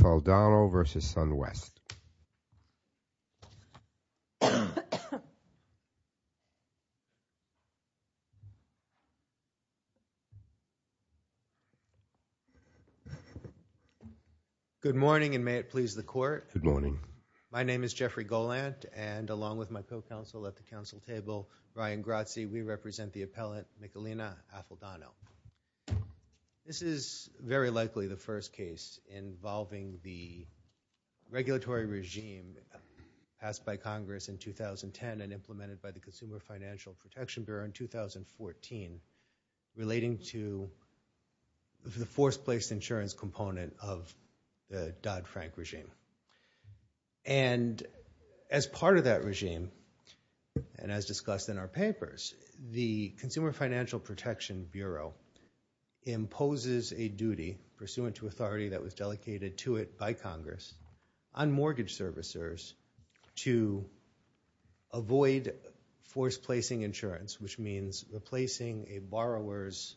Iaffaldano v. Sun West. Good morning and may it please the court. Good morning. My name is Jeffrey Goland and along with my co-counsel at the council table, Ryan Grazzi, we represent the appellate Michalina Iaffaldano. This is very likely the first case involving the regulatory regime passed by Congress in 2010 and implemented by the Consumer Financial Protection Bureau in 2014 relating to the forced place insurance component of the Dodd-Frank regime. And as part of that regime, and as discussed in our papers, the Consumer Financial Protection Bureau imposes a duty pursuant to authority that was delegated to it by Congress on mortgage servicers to avoid forced placing insurance, which means replacing a borrower's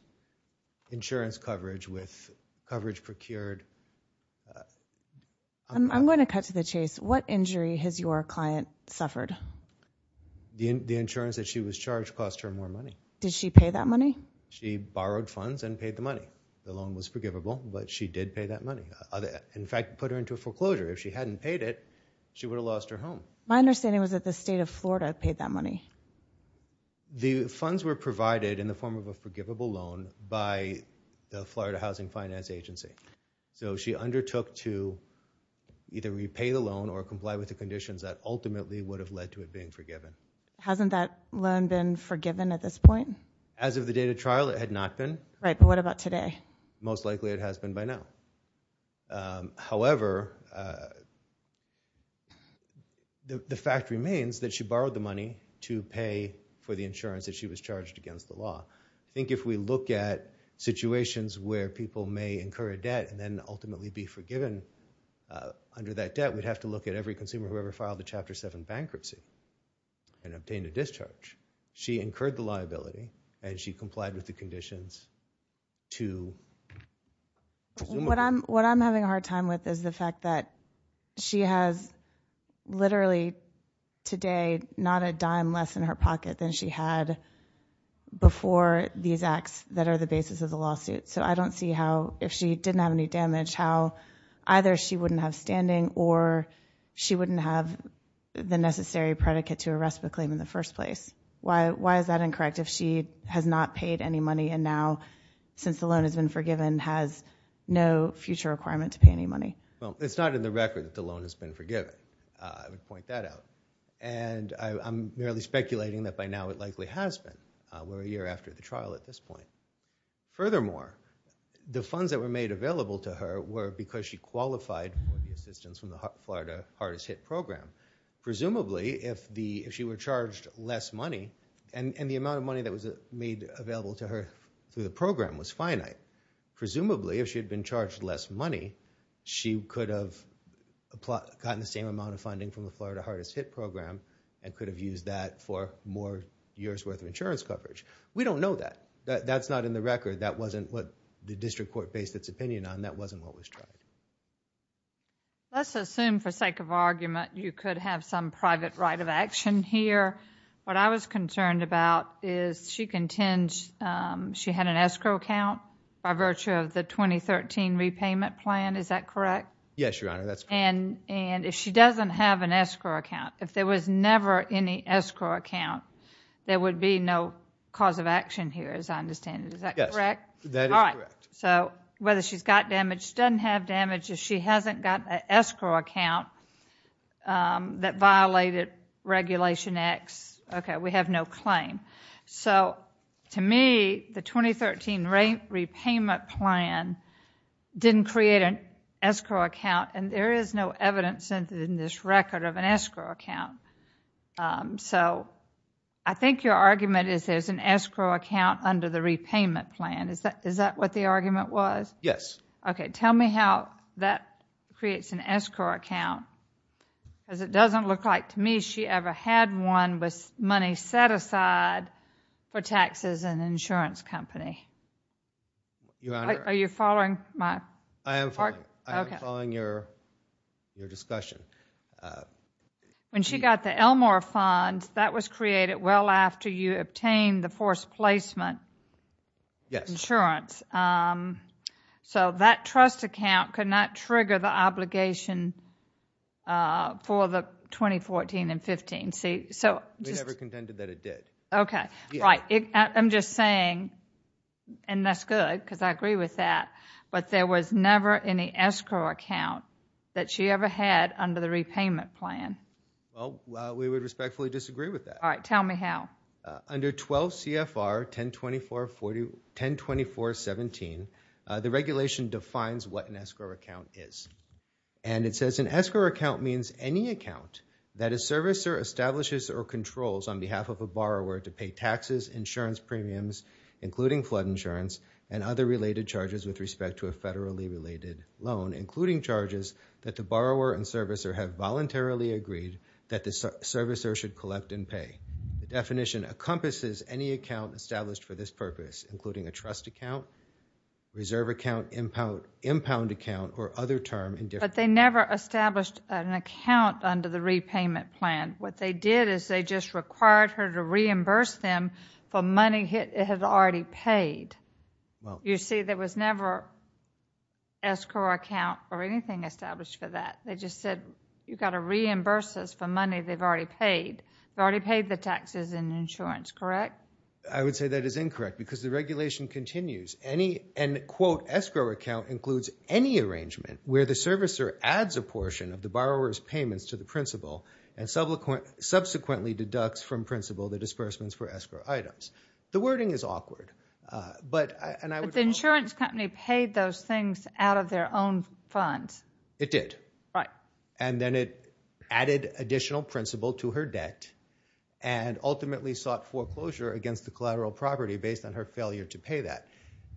insurance coverage with coverage procured. I'm going to cut to the chase. What injury has your client suffered? The insurance that she was charged cost her more money. Did she pay that money? She borrowed funds and paid the money. The loan was forgivable, but she did pay that money. In fact, it put her into a foreclosure. If she hadn't paid it, she would have lost her home. My understanding was that the state of Florida paid that money. The funds were provided in the form of a forgivable loan by the Florida Housing Finance Agency. So she undertook to either repay the loan or comply with the conditions that ultimately would have led to it being forgiven. Hasn't that loan been forgiven at this point? As of the date of trial, it had not been. Right. But what about today? Most likely it has been by now. However, the fact remains that she borrowed the money to pay for the insurance that she was charged against the law. I think if we look at situations where people may incur a debt and then ultimately be forgiven under that debt, we'd have to look at every consumer who ever filed a Chapter 7 bankruptcy and obtained a discharge. She incurred the liability and she complied with the conditions to resume. What I'm having a hard time with is the fact that she has literally today not a dime less in her pocket than she had before these acts that are the basis of the lawsuit. So I don't see how if she didn't have any damage, how either she wouldn't have standing or she wouldn't have the necessary predicate to arrest the claim in the first place. Why is that incorrect if she has not paid any money and now, since the loan has been forgiven, has no future requirement to pay any money? Well, it's not in the record that the loan has been forgiven, I would point that out. And I'm merely speculating that by now it likely has been. We're a year after the trial at this point. Furthermore, the funds that were made available to her were because she qualified for the assistance from the Florida Hardest-Hit Program. Presumably, if she were charged less money, and the amount of money that was made available to her through the program was finite, presumably if she had been charged less money, she could have gotten the same amount of funding from the Florida Hardest-Hit Program and could have used that for more years' worth of insurance coverage. We don't know that. That's not in the record. That wasn't what the district court based its opinion on. That wasn't what was charged. Let's assume, for sake of argument, you could have some private right of action here. What I was concerned about is she contends she had an escrow account by virtue of the 2013 repayment plan. Is that correct? Yes, Your Honor. That's correct. And if she doesn't have an escrow account, if there was never any escrow account, there would be no cause of action here, as I understand it. Is that correct? Yes. That is correct. So whether she's got damage, doesn't have damage, if she hasn't got an escrow account that violated Regulation X, okay, we have no claim. So to me, the 2013 repayment plan didn't create an escrow account and there is no evidence in this record of an escrow account. So I think your argument is there's an escrow account under the repayment plan. Is that what the argument was? Yes. Okay. Tell me how that creates an escrow account because it doesn't look like to me she ever had one with money set aside for taxes and insurance company. Your Honor. Are you following my work? I am following. Okay. I am following your discussion. When she got the Elmore funds, that was created well after you obtained the forced placement. Yes. Insurance. So that trust account could not trigger the obligation for the 2014 and 2015. They never contended that it did. Okay. Right. I am just saying, and that's good because I agree with that, but there was never any escrow account that she ever had under the repayment plan. Well, we would respectfully disagree with that. All right. Tell me how. Under 12 CFR 1024.17, the regulation defines what an escrow account is. And it says an escrow account means any account that a servicer establishes or controls on behalf of a borrower to pay taxes, insurance premiums, including flood insurance, and other related charges with respect to a federally related loan, including charges that the borrower and servicer have voluntarily agreed that the servicer should collect and pay. The definition encompasses any account established for this purpose, including a trust account, reserve account, impound account, or other term. But they never established an account under the repayment plan. What they did is they just required her to reimburse them for money it had already paid. You see, there was never escrow account or anything established for that. They just said, you've got to reimburse us for money they've already paid. They've already paid the taxes and insurance, correct? I would say that is incorrect because the regulation continues. Any, and quote, escrow account includes any arrangement where the servicer adds a portion of the borrower's payments to the principal and subsequently deducts from principal the disbursements for escrow items. The wording is awkward. But the insurance company paid those things out of their own funds. It did. Right. And then it added additional principal to her debt and ultimately sought foreclosure against the collateral property based on her failure to pay that.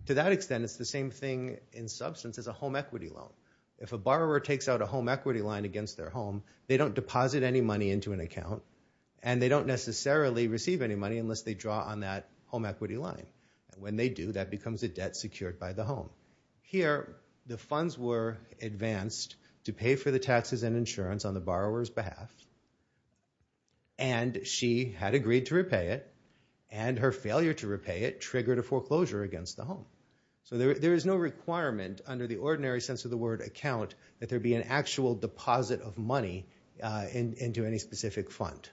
To that extent, it's the same thing in substance as a home equity loan. If a borrower takes out a home equity line against their home, they don't deposit any money into an account, and they don't necessarily receive any money unless they draw on that home equity line. When they do, that becomes a debt secured by the home. Here, the funds were advanced to pay for the taxes and insurance on the borrower's behalf, and she had agreed to repay it, and her failure to repay it triggered a foreclosure against the home. So there is no requirement under the ordinary sense of the word account that there be an actual deposit of money into any specific fund.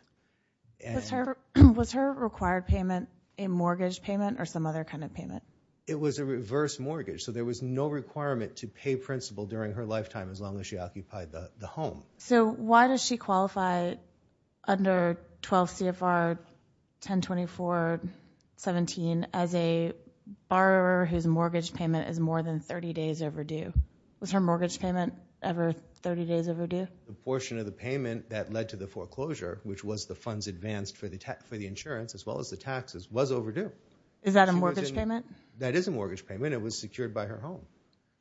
Was her required payment a mortgage payment or some other kind of payment? It was a reverse mortgage. So there was no requirement to pay principal during her lifetime as long as she occupied the home. So why does she qualify under 12 CFR 1024.17 as a borrower whose mortgage payment is more than 30 days overdue? Was her mortgage payment ever 30 days overdue? The portion of the payment that led to the foreclosure, which was the funds advanced for the insurance as well as the taxes, was overdue. Is that a mortgage payment? That is a mortgage payment. It was secured by her home.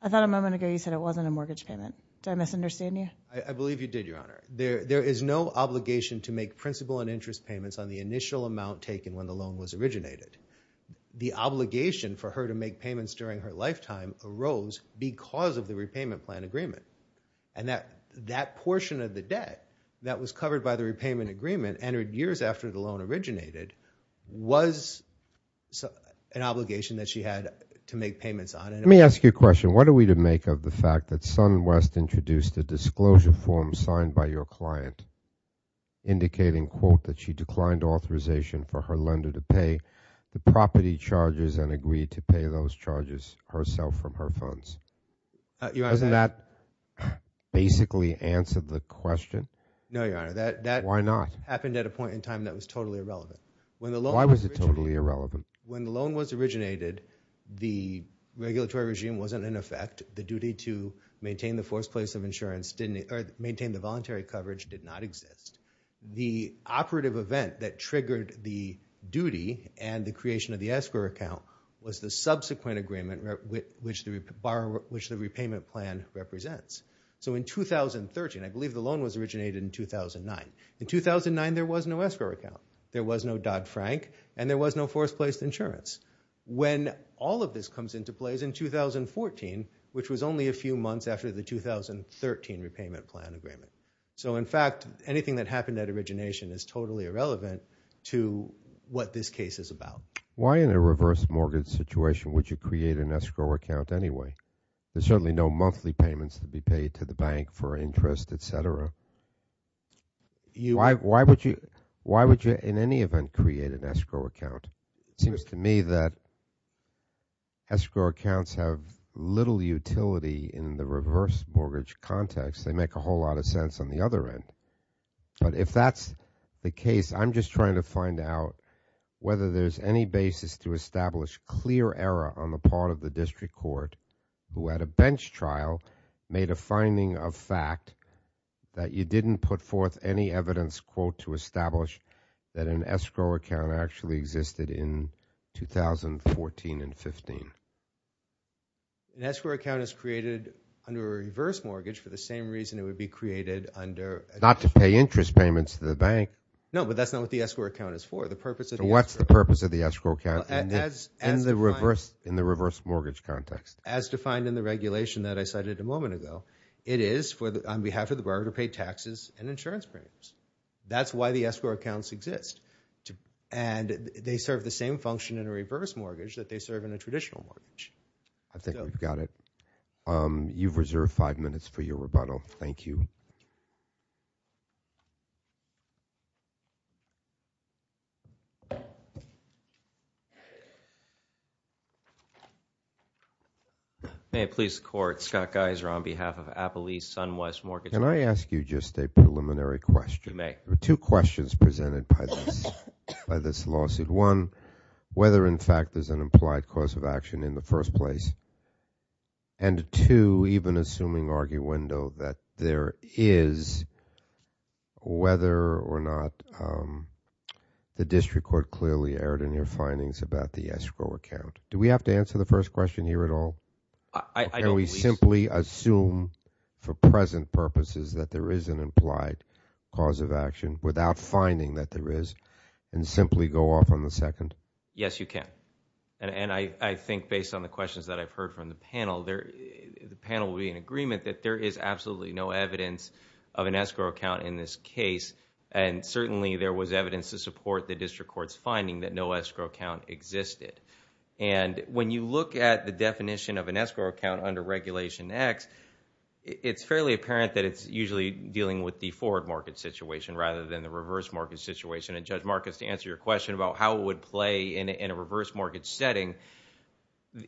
I thought a moment ago you said it wasn't a mortgage payment. Did I misunderstand you? I believe you did, Your Honor. There is no obligation to make principal and interest payments on the initial amount taken when the loan was originated. The obligation for her to make payments during her lifetime arose because of the repayment plan agreement, and that portion of the debt that was covered by the repayment agreement the loan originated was an obligation that she had to make payments on. Let me ask you a question. What are we to make of the fact that SunWest introduced a disclosure form signed by your client indicating, quote, that she declined authorization for her lender to pay the property charges and agreed to pay those charges herself from her funds? Doesn't that basically answer the question? No, Your Honor. Why not? That happened at a point in time that was totally irrelevant. Why was it totally irrelevant? When the loan was originated, the regulatory regime wasn't in effect. The duty to maintain the forced place of insurance or maintain the voluntary coverage did not exist. The operative event that triggered the duty and the creation of the escrow account was the subsequent agreement which the repayment plan represents. So in 2013, I believe the loan was originated in 2009. In 2009, there was no escrow account. There was no Dodd-Frank, and there was no forced place insurance. When all of this comes into play is in 2014, which was only a few months after the 2013 repayment plan agreement. So in fact, anything that happened at origination is totally irrelevant to what this case is about. Why in a reverse mortgage situation would you create an escrow account anyway? There's certainly no monthly payments to be paid to the bank for interest, et cetera. Why would you in any event create an escrow account? It seems to me that escrow accounts have little utility in the reverse mortgage context. They make a whole lot of sense on the other end. But if that's the case, I'm just trying to find out whether there's any basis to establish clear error on the part of the district court who had a bench trial, made a finding of fact that you didn't put forth any evidence, quote, to establish that an escrow account actually existed in 2014 and 15. An escrow account is created under a reverse mortgage for the same reason it would be created under – Not to pay interest payments to the bank. No, but that's not what the escrow account is for. The purpose of the – So what's the purpose of the escrow account? In the reverse mortgage context. As defined in the regulation that I cited a moment ago, it is on behalf of the borrower to pay taxes and insurance premiums. That's why the escrow accounts exist. And they serve the same function in a reverse mortgage that they serve in a traditional mortgage. I think we've got it. You've reserved five minutes for your rebuttal. Thank you. May I please court? Scott Geiser on behalf of Apple East SunWest Mortgage – Can I ask you just a preliminary question? You may. There are two questions presented by this lawsuit. One, whether in fact there's an implied cause of action in the first place. And two, even assuming arguendo that there is, whether or not the district court clearly shared in your findings about the escrow account. Do we have to answer the first question here at all? Or can we simply assume for present purposes that there is an implied cause of action without finding that there is and simply go off on the second? Yes, you can. And I think based on the questions that I've heard from the panel, the panel will be in agreement that there is absolutely no evidence of an escrow account in this case. And certainly there was evidence to support the district court's finding that no escrow account existed. And when you look at the definition of an escrow account under Regulation X, it's fairly apparent that it's usually dealing with the forward market situation rather than the reverse market situation. And Judge Marcus, to answer your question about how it would play in a reverse mortgage setting,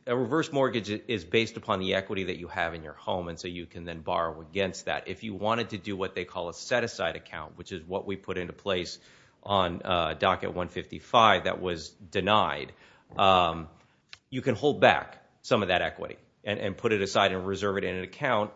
a reverse mortgage is based upon the equity that you have in your home and so you can then borrow against that. If you wanted to do what they call a set-aside account, which is what we put into place on Docket 155 that was denied, you can hold back some of that equity and put it aside and reserve it in an account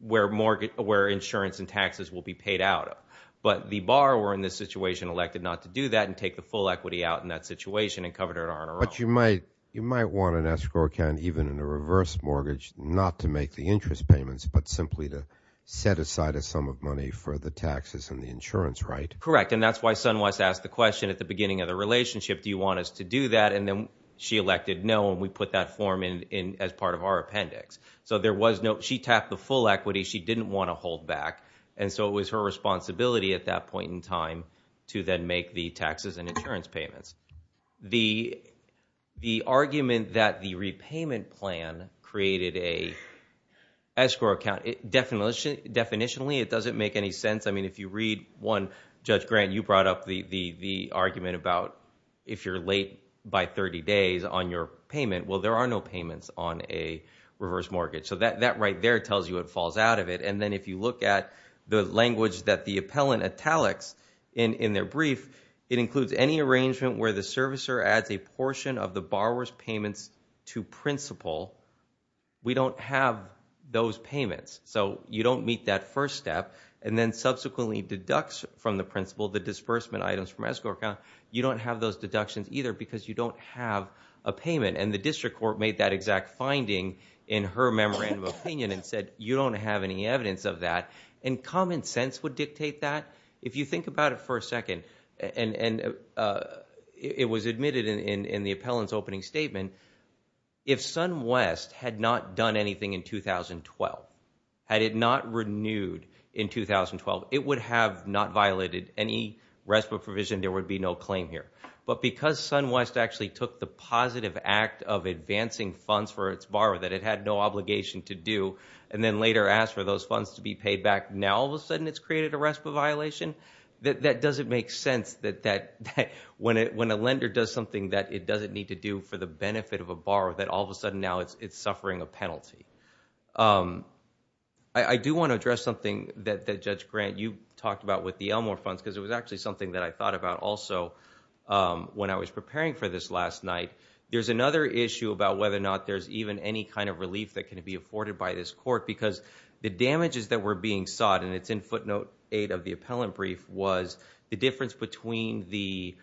where insurance and taxes will be paid out. But the bar were in this situation elected not to do that and take the full equity out in that situation and covered it R and R. But you might want an escrow account even in a reverse mortgage not to make the interest payments but simply to set aside a sum of money for the taxes and the insurance, right? Correct, and that's why Sunwest asked the question at the beginning of the relationship, do you want us to do that? And then she elected no and we put that form in as part of our appendix. So there was no – she tapped the full equity. She didn't want to hold back. And so it was her responsibility at that point in time to then make the taxes and insurance payments. The argument that the repayment plan created a escrow account, definitionally it doesn't make any sense. I mean if you read one, Judge Grant, you brought up the argument about if you're late by 30 days on your payment, well, there are no payments on a reverse mortgage. So that right there tells you what falls out of it. And then if you look at the language that the appellant italics in their brief, it includes any arrangement where the servicer adds a portion of the borrower's payments to principal, we don't have those payments. So you don't meet that first step and then subsequently deducts from the principal the disbursement items from escrow account. You don't have those deductions either because you don't have a payment. And the district court made that exact finding in her memorandum of opinion and said you don't have any evidence of that. And common sense would dictate that. If you think about it for a second, and it was admitted in the appellant's opening statement, if SunWest had not done anything in 2012, had it not renewed in 2012, it would have not violated any RESPA provision. There would be no claim here. But because SunWest actually took the positive act of advancing funds for its borrower that it had no obligation to do and then later asked for those funds to be paid back, now all of a sudden it's created a RESPA violation, that doesn't make sense that when a lender does something that it doesn't need to do for the benefit of a borrower that all of a sudden now it's suffering a penalty. I do want to address something that Judge Grant, you talked about with the Elmore funds because it was actually something that I thought about also when I was preparing for this last night. There's another issue about whether or not there's even any kind of relief that can be afforded by this court because the damages that were being sought, and it's in footnote 8 of the appellant brief, was the difference between the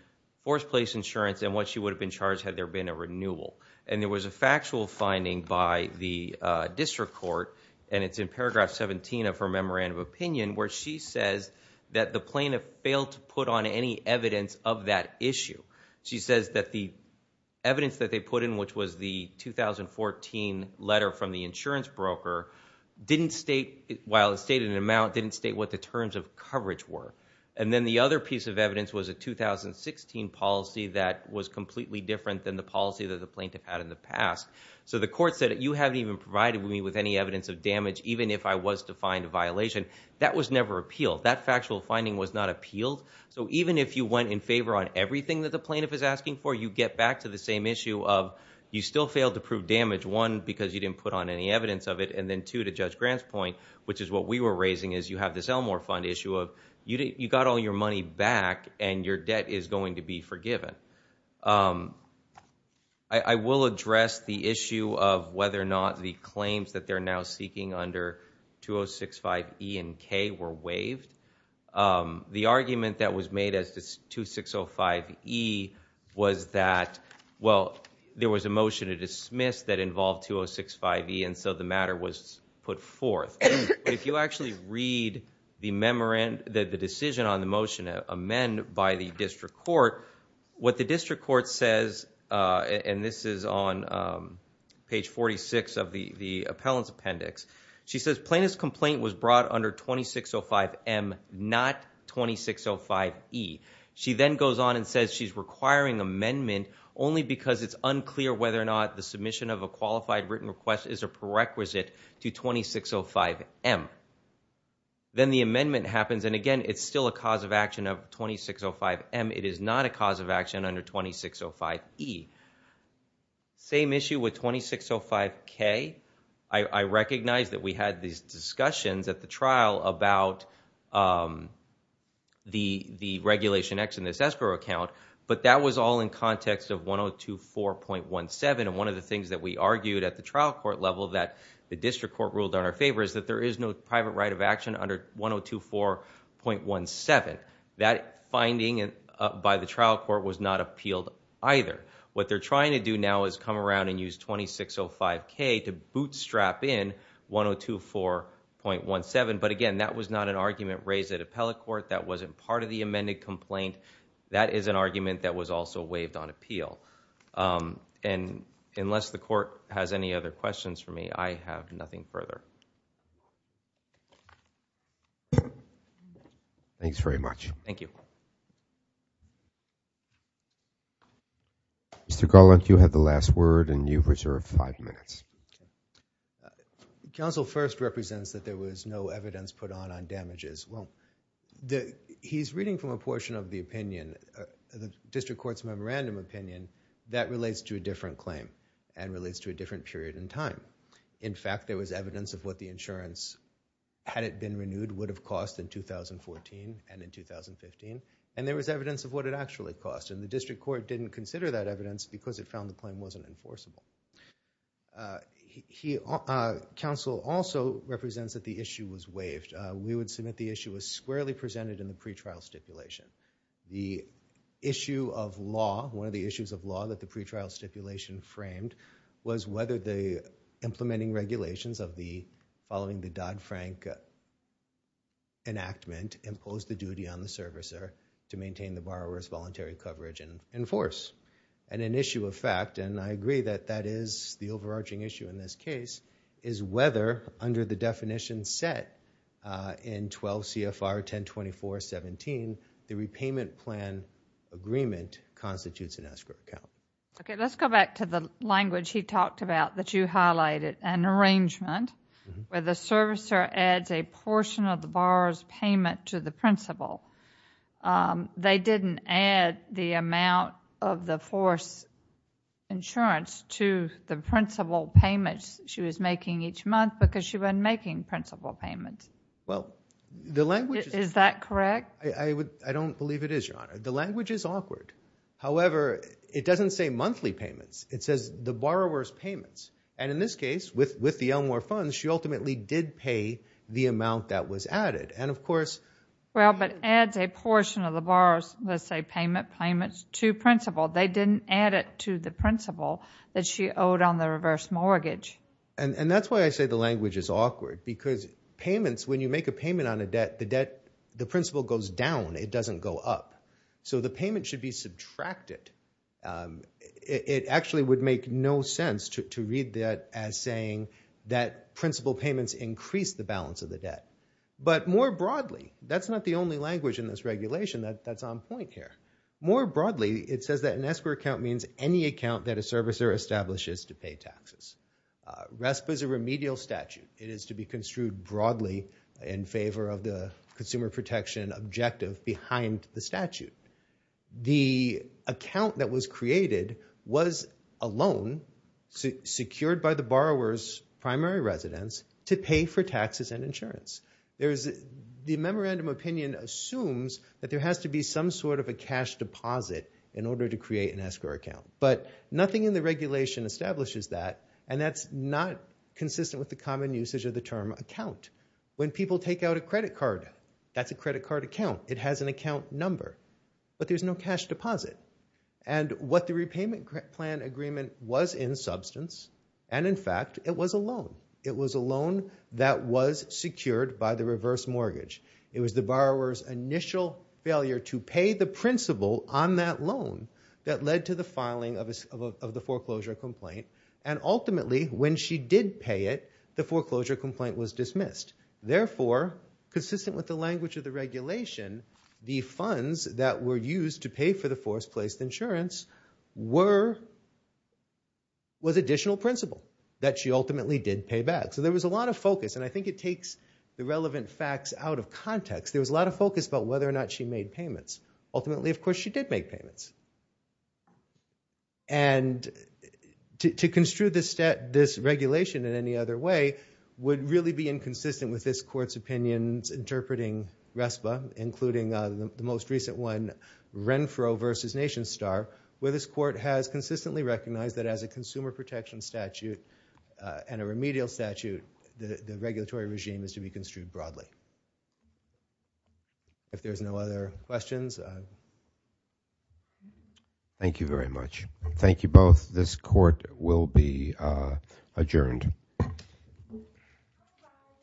forced place insurance and what she would have been charged had there been a renewal. And there was a factual finding by the district court, and it's in paragraph 17 of her memorandum of opinion, where she says that the plaintiff failed to put on any evidence of that issue. She says that the evidence that they put in, which was the 2014 letter from the insurance broker, didn't state, while it stated an amount, didn't state what the terms of coverage were. And then the other piece of evidence was a 2016 policy that was completely different than the policy that the plaintiff had in the past. So the court said, you haven't even provided me with any evidence of damage, even if I was to find a violation. That was never appealed. That factual finding was not appealed. So even if you went in favor on everything that the plaintiff is asking for, you get back to the same issue of you still failed to prove damage, one, because you didn't put on any evidence of it, and then two, to Judge Grant's point, which is what we were raising, is you have this Elmore Fund issue of you got all your money back and your debt is going to be forgiven. I will address the issue of whether or not the claims that they're now seeking under 2065E and K were waived. The argument that was made as to 2605E was that, well, there was a motion to dismiss that involved 2065E, and so the matter was put forth. If you actually read the decision on the motion to amend by the district court, what the district court says, and this is on page 46 of the appellant's appendix, she says plaintiff's complaint was brought under 2605M, not 2605E. She then goes on and says she's requiring amendment only because it's unclear whether or not the submission of a qualified written request is a prerequisite to 2605M. Then the amendment happens, and again, it's still a cause of action of 2605M. It is not a cause of action under 2605E. Same issue with 2605K. I recognize that we had these discussions at the trial about the regulation X in this escrow account, but that was all in context of 1024.17, and one of the things that we argued at the trial court level that the district court ruled in our favor is that there is no private right of action under 1024.17. That finding by the trial court was not appealed either. What they're trying to do now is come around and use 2605K to bootstrap in 1024.17, but again, that was not an argument raised at appellate court. That wasn't part of the amended complaint. That is an argument that was also waived on appeal, and unless the court has any other questions for me, I have nothing further. Thanks very much. Thank you. Mr. Garland, you had the last word, and you've reserved five minutes. Counsel first represents that there was no evidence put on on damages. Well, he's reading from a portion of the opinion, the district court's memorandum opinion, that relates to a different claim and relates to a different period in time. In fact, there was evidence of what the insurance, had it been renewed, would have cost in 2014 and in 2015, and there was evidence of what it actually cost, and the district court didn't consider that evidence because it found the claim wasn't enforceable. Counsel also represents that the issue was waived. We would submit the issue was squarely presented in the pretrial stipulation. The issue of law, one of the issues of law that the pretrial stipulation framed was whether the implementing regulations following the Dodd-Frank enactment imposed the duty on the servicer to maintain the borrower's voluntary coverage and enforce. An issue of fact, and I agree that that is the overarching issue in this case, is whether under the definition set in 12 CFR 1024.17, the repayment plan agreement constitutes an escrow account. Okay, let's go back to the language he talked about that you highlighted, an arrangement where the servicer adds a portion of the borrower's payment to the principal. They didn't add the amount of the force insurance to the principal payments she was making each month because she wasn't making principal payments. Well, the language is... Is that correct? I don't believe it is, Your Honor. The language is awkward. However, it doesn't say monthly payments. It says the borrower's payments. And in this case, with the Elmore funds, she ultimately did pay the amount that was added. And of course... Well, but adds a portion of the borrower's, let's say, payment to principal. They didn't add it to the principal that she owed on the reverse mortgage. And that's why I say the language is awkward because payments, when you make a payment on a debt, the principal goes down. It doesn't go up. So the payment should be subtracted. It actually would make no sense to read that as saying that principal payments increase the balance of the debt. But more broadly, that's not the only language in this regulation that's on point here. More broadly, it says that an escrow account means any account that a servicer establishes to pay taxes. RESPA is a remedial statute. It is to be construed broadly in favor of the consumer protection objective behind the statute. The account that was created was a loan secured by the borrower's primary residence to pay for taxes and insurance. The memorandum opinion assumes that there has to be some sort of a cash deposit in order to create an escrow account. But nothing in the regulation establishes that, and that's not consistent with the common usage of the term account. When people take out a credit card, that's a credit card account. It has an account number, but there's no cash deposit. And what the repayment plan agreement was in substance, and in fact, it was a loan. It was a loan that was secured by the reverse mortgage. It was the borrower's initial failure to pay the principal on that loan that led to the filing of the foreclosure complaint and ultimately, when she did pay it, the foreclosure complaint was dismissed. Therefore, consistent with the language of the regulation, the funds that were used to pay for the force-placed insurance was additional principal that she ultimately did pay back. So there was a lot of focus, and I think it takes the relevant facts out of context. There was a lot of focus about whether or not she made payments. Ultimately, of course, she did make payments. And to construe this regulation in any other way would really be inconsistent with this court's opinions interpreting RESPA, including the most recent one, Renfro v. NationStar, where this court has consistently recognized that as a consumer protection statute and a remedial statute, the regulatory regime is to be construed broadly. If there's no other questions. Thank you very much. Thank you both. This court will be adjourned.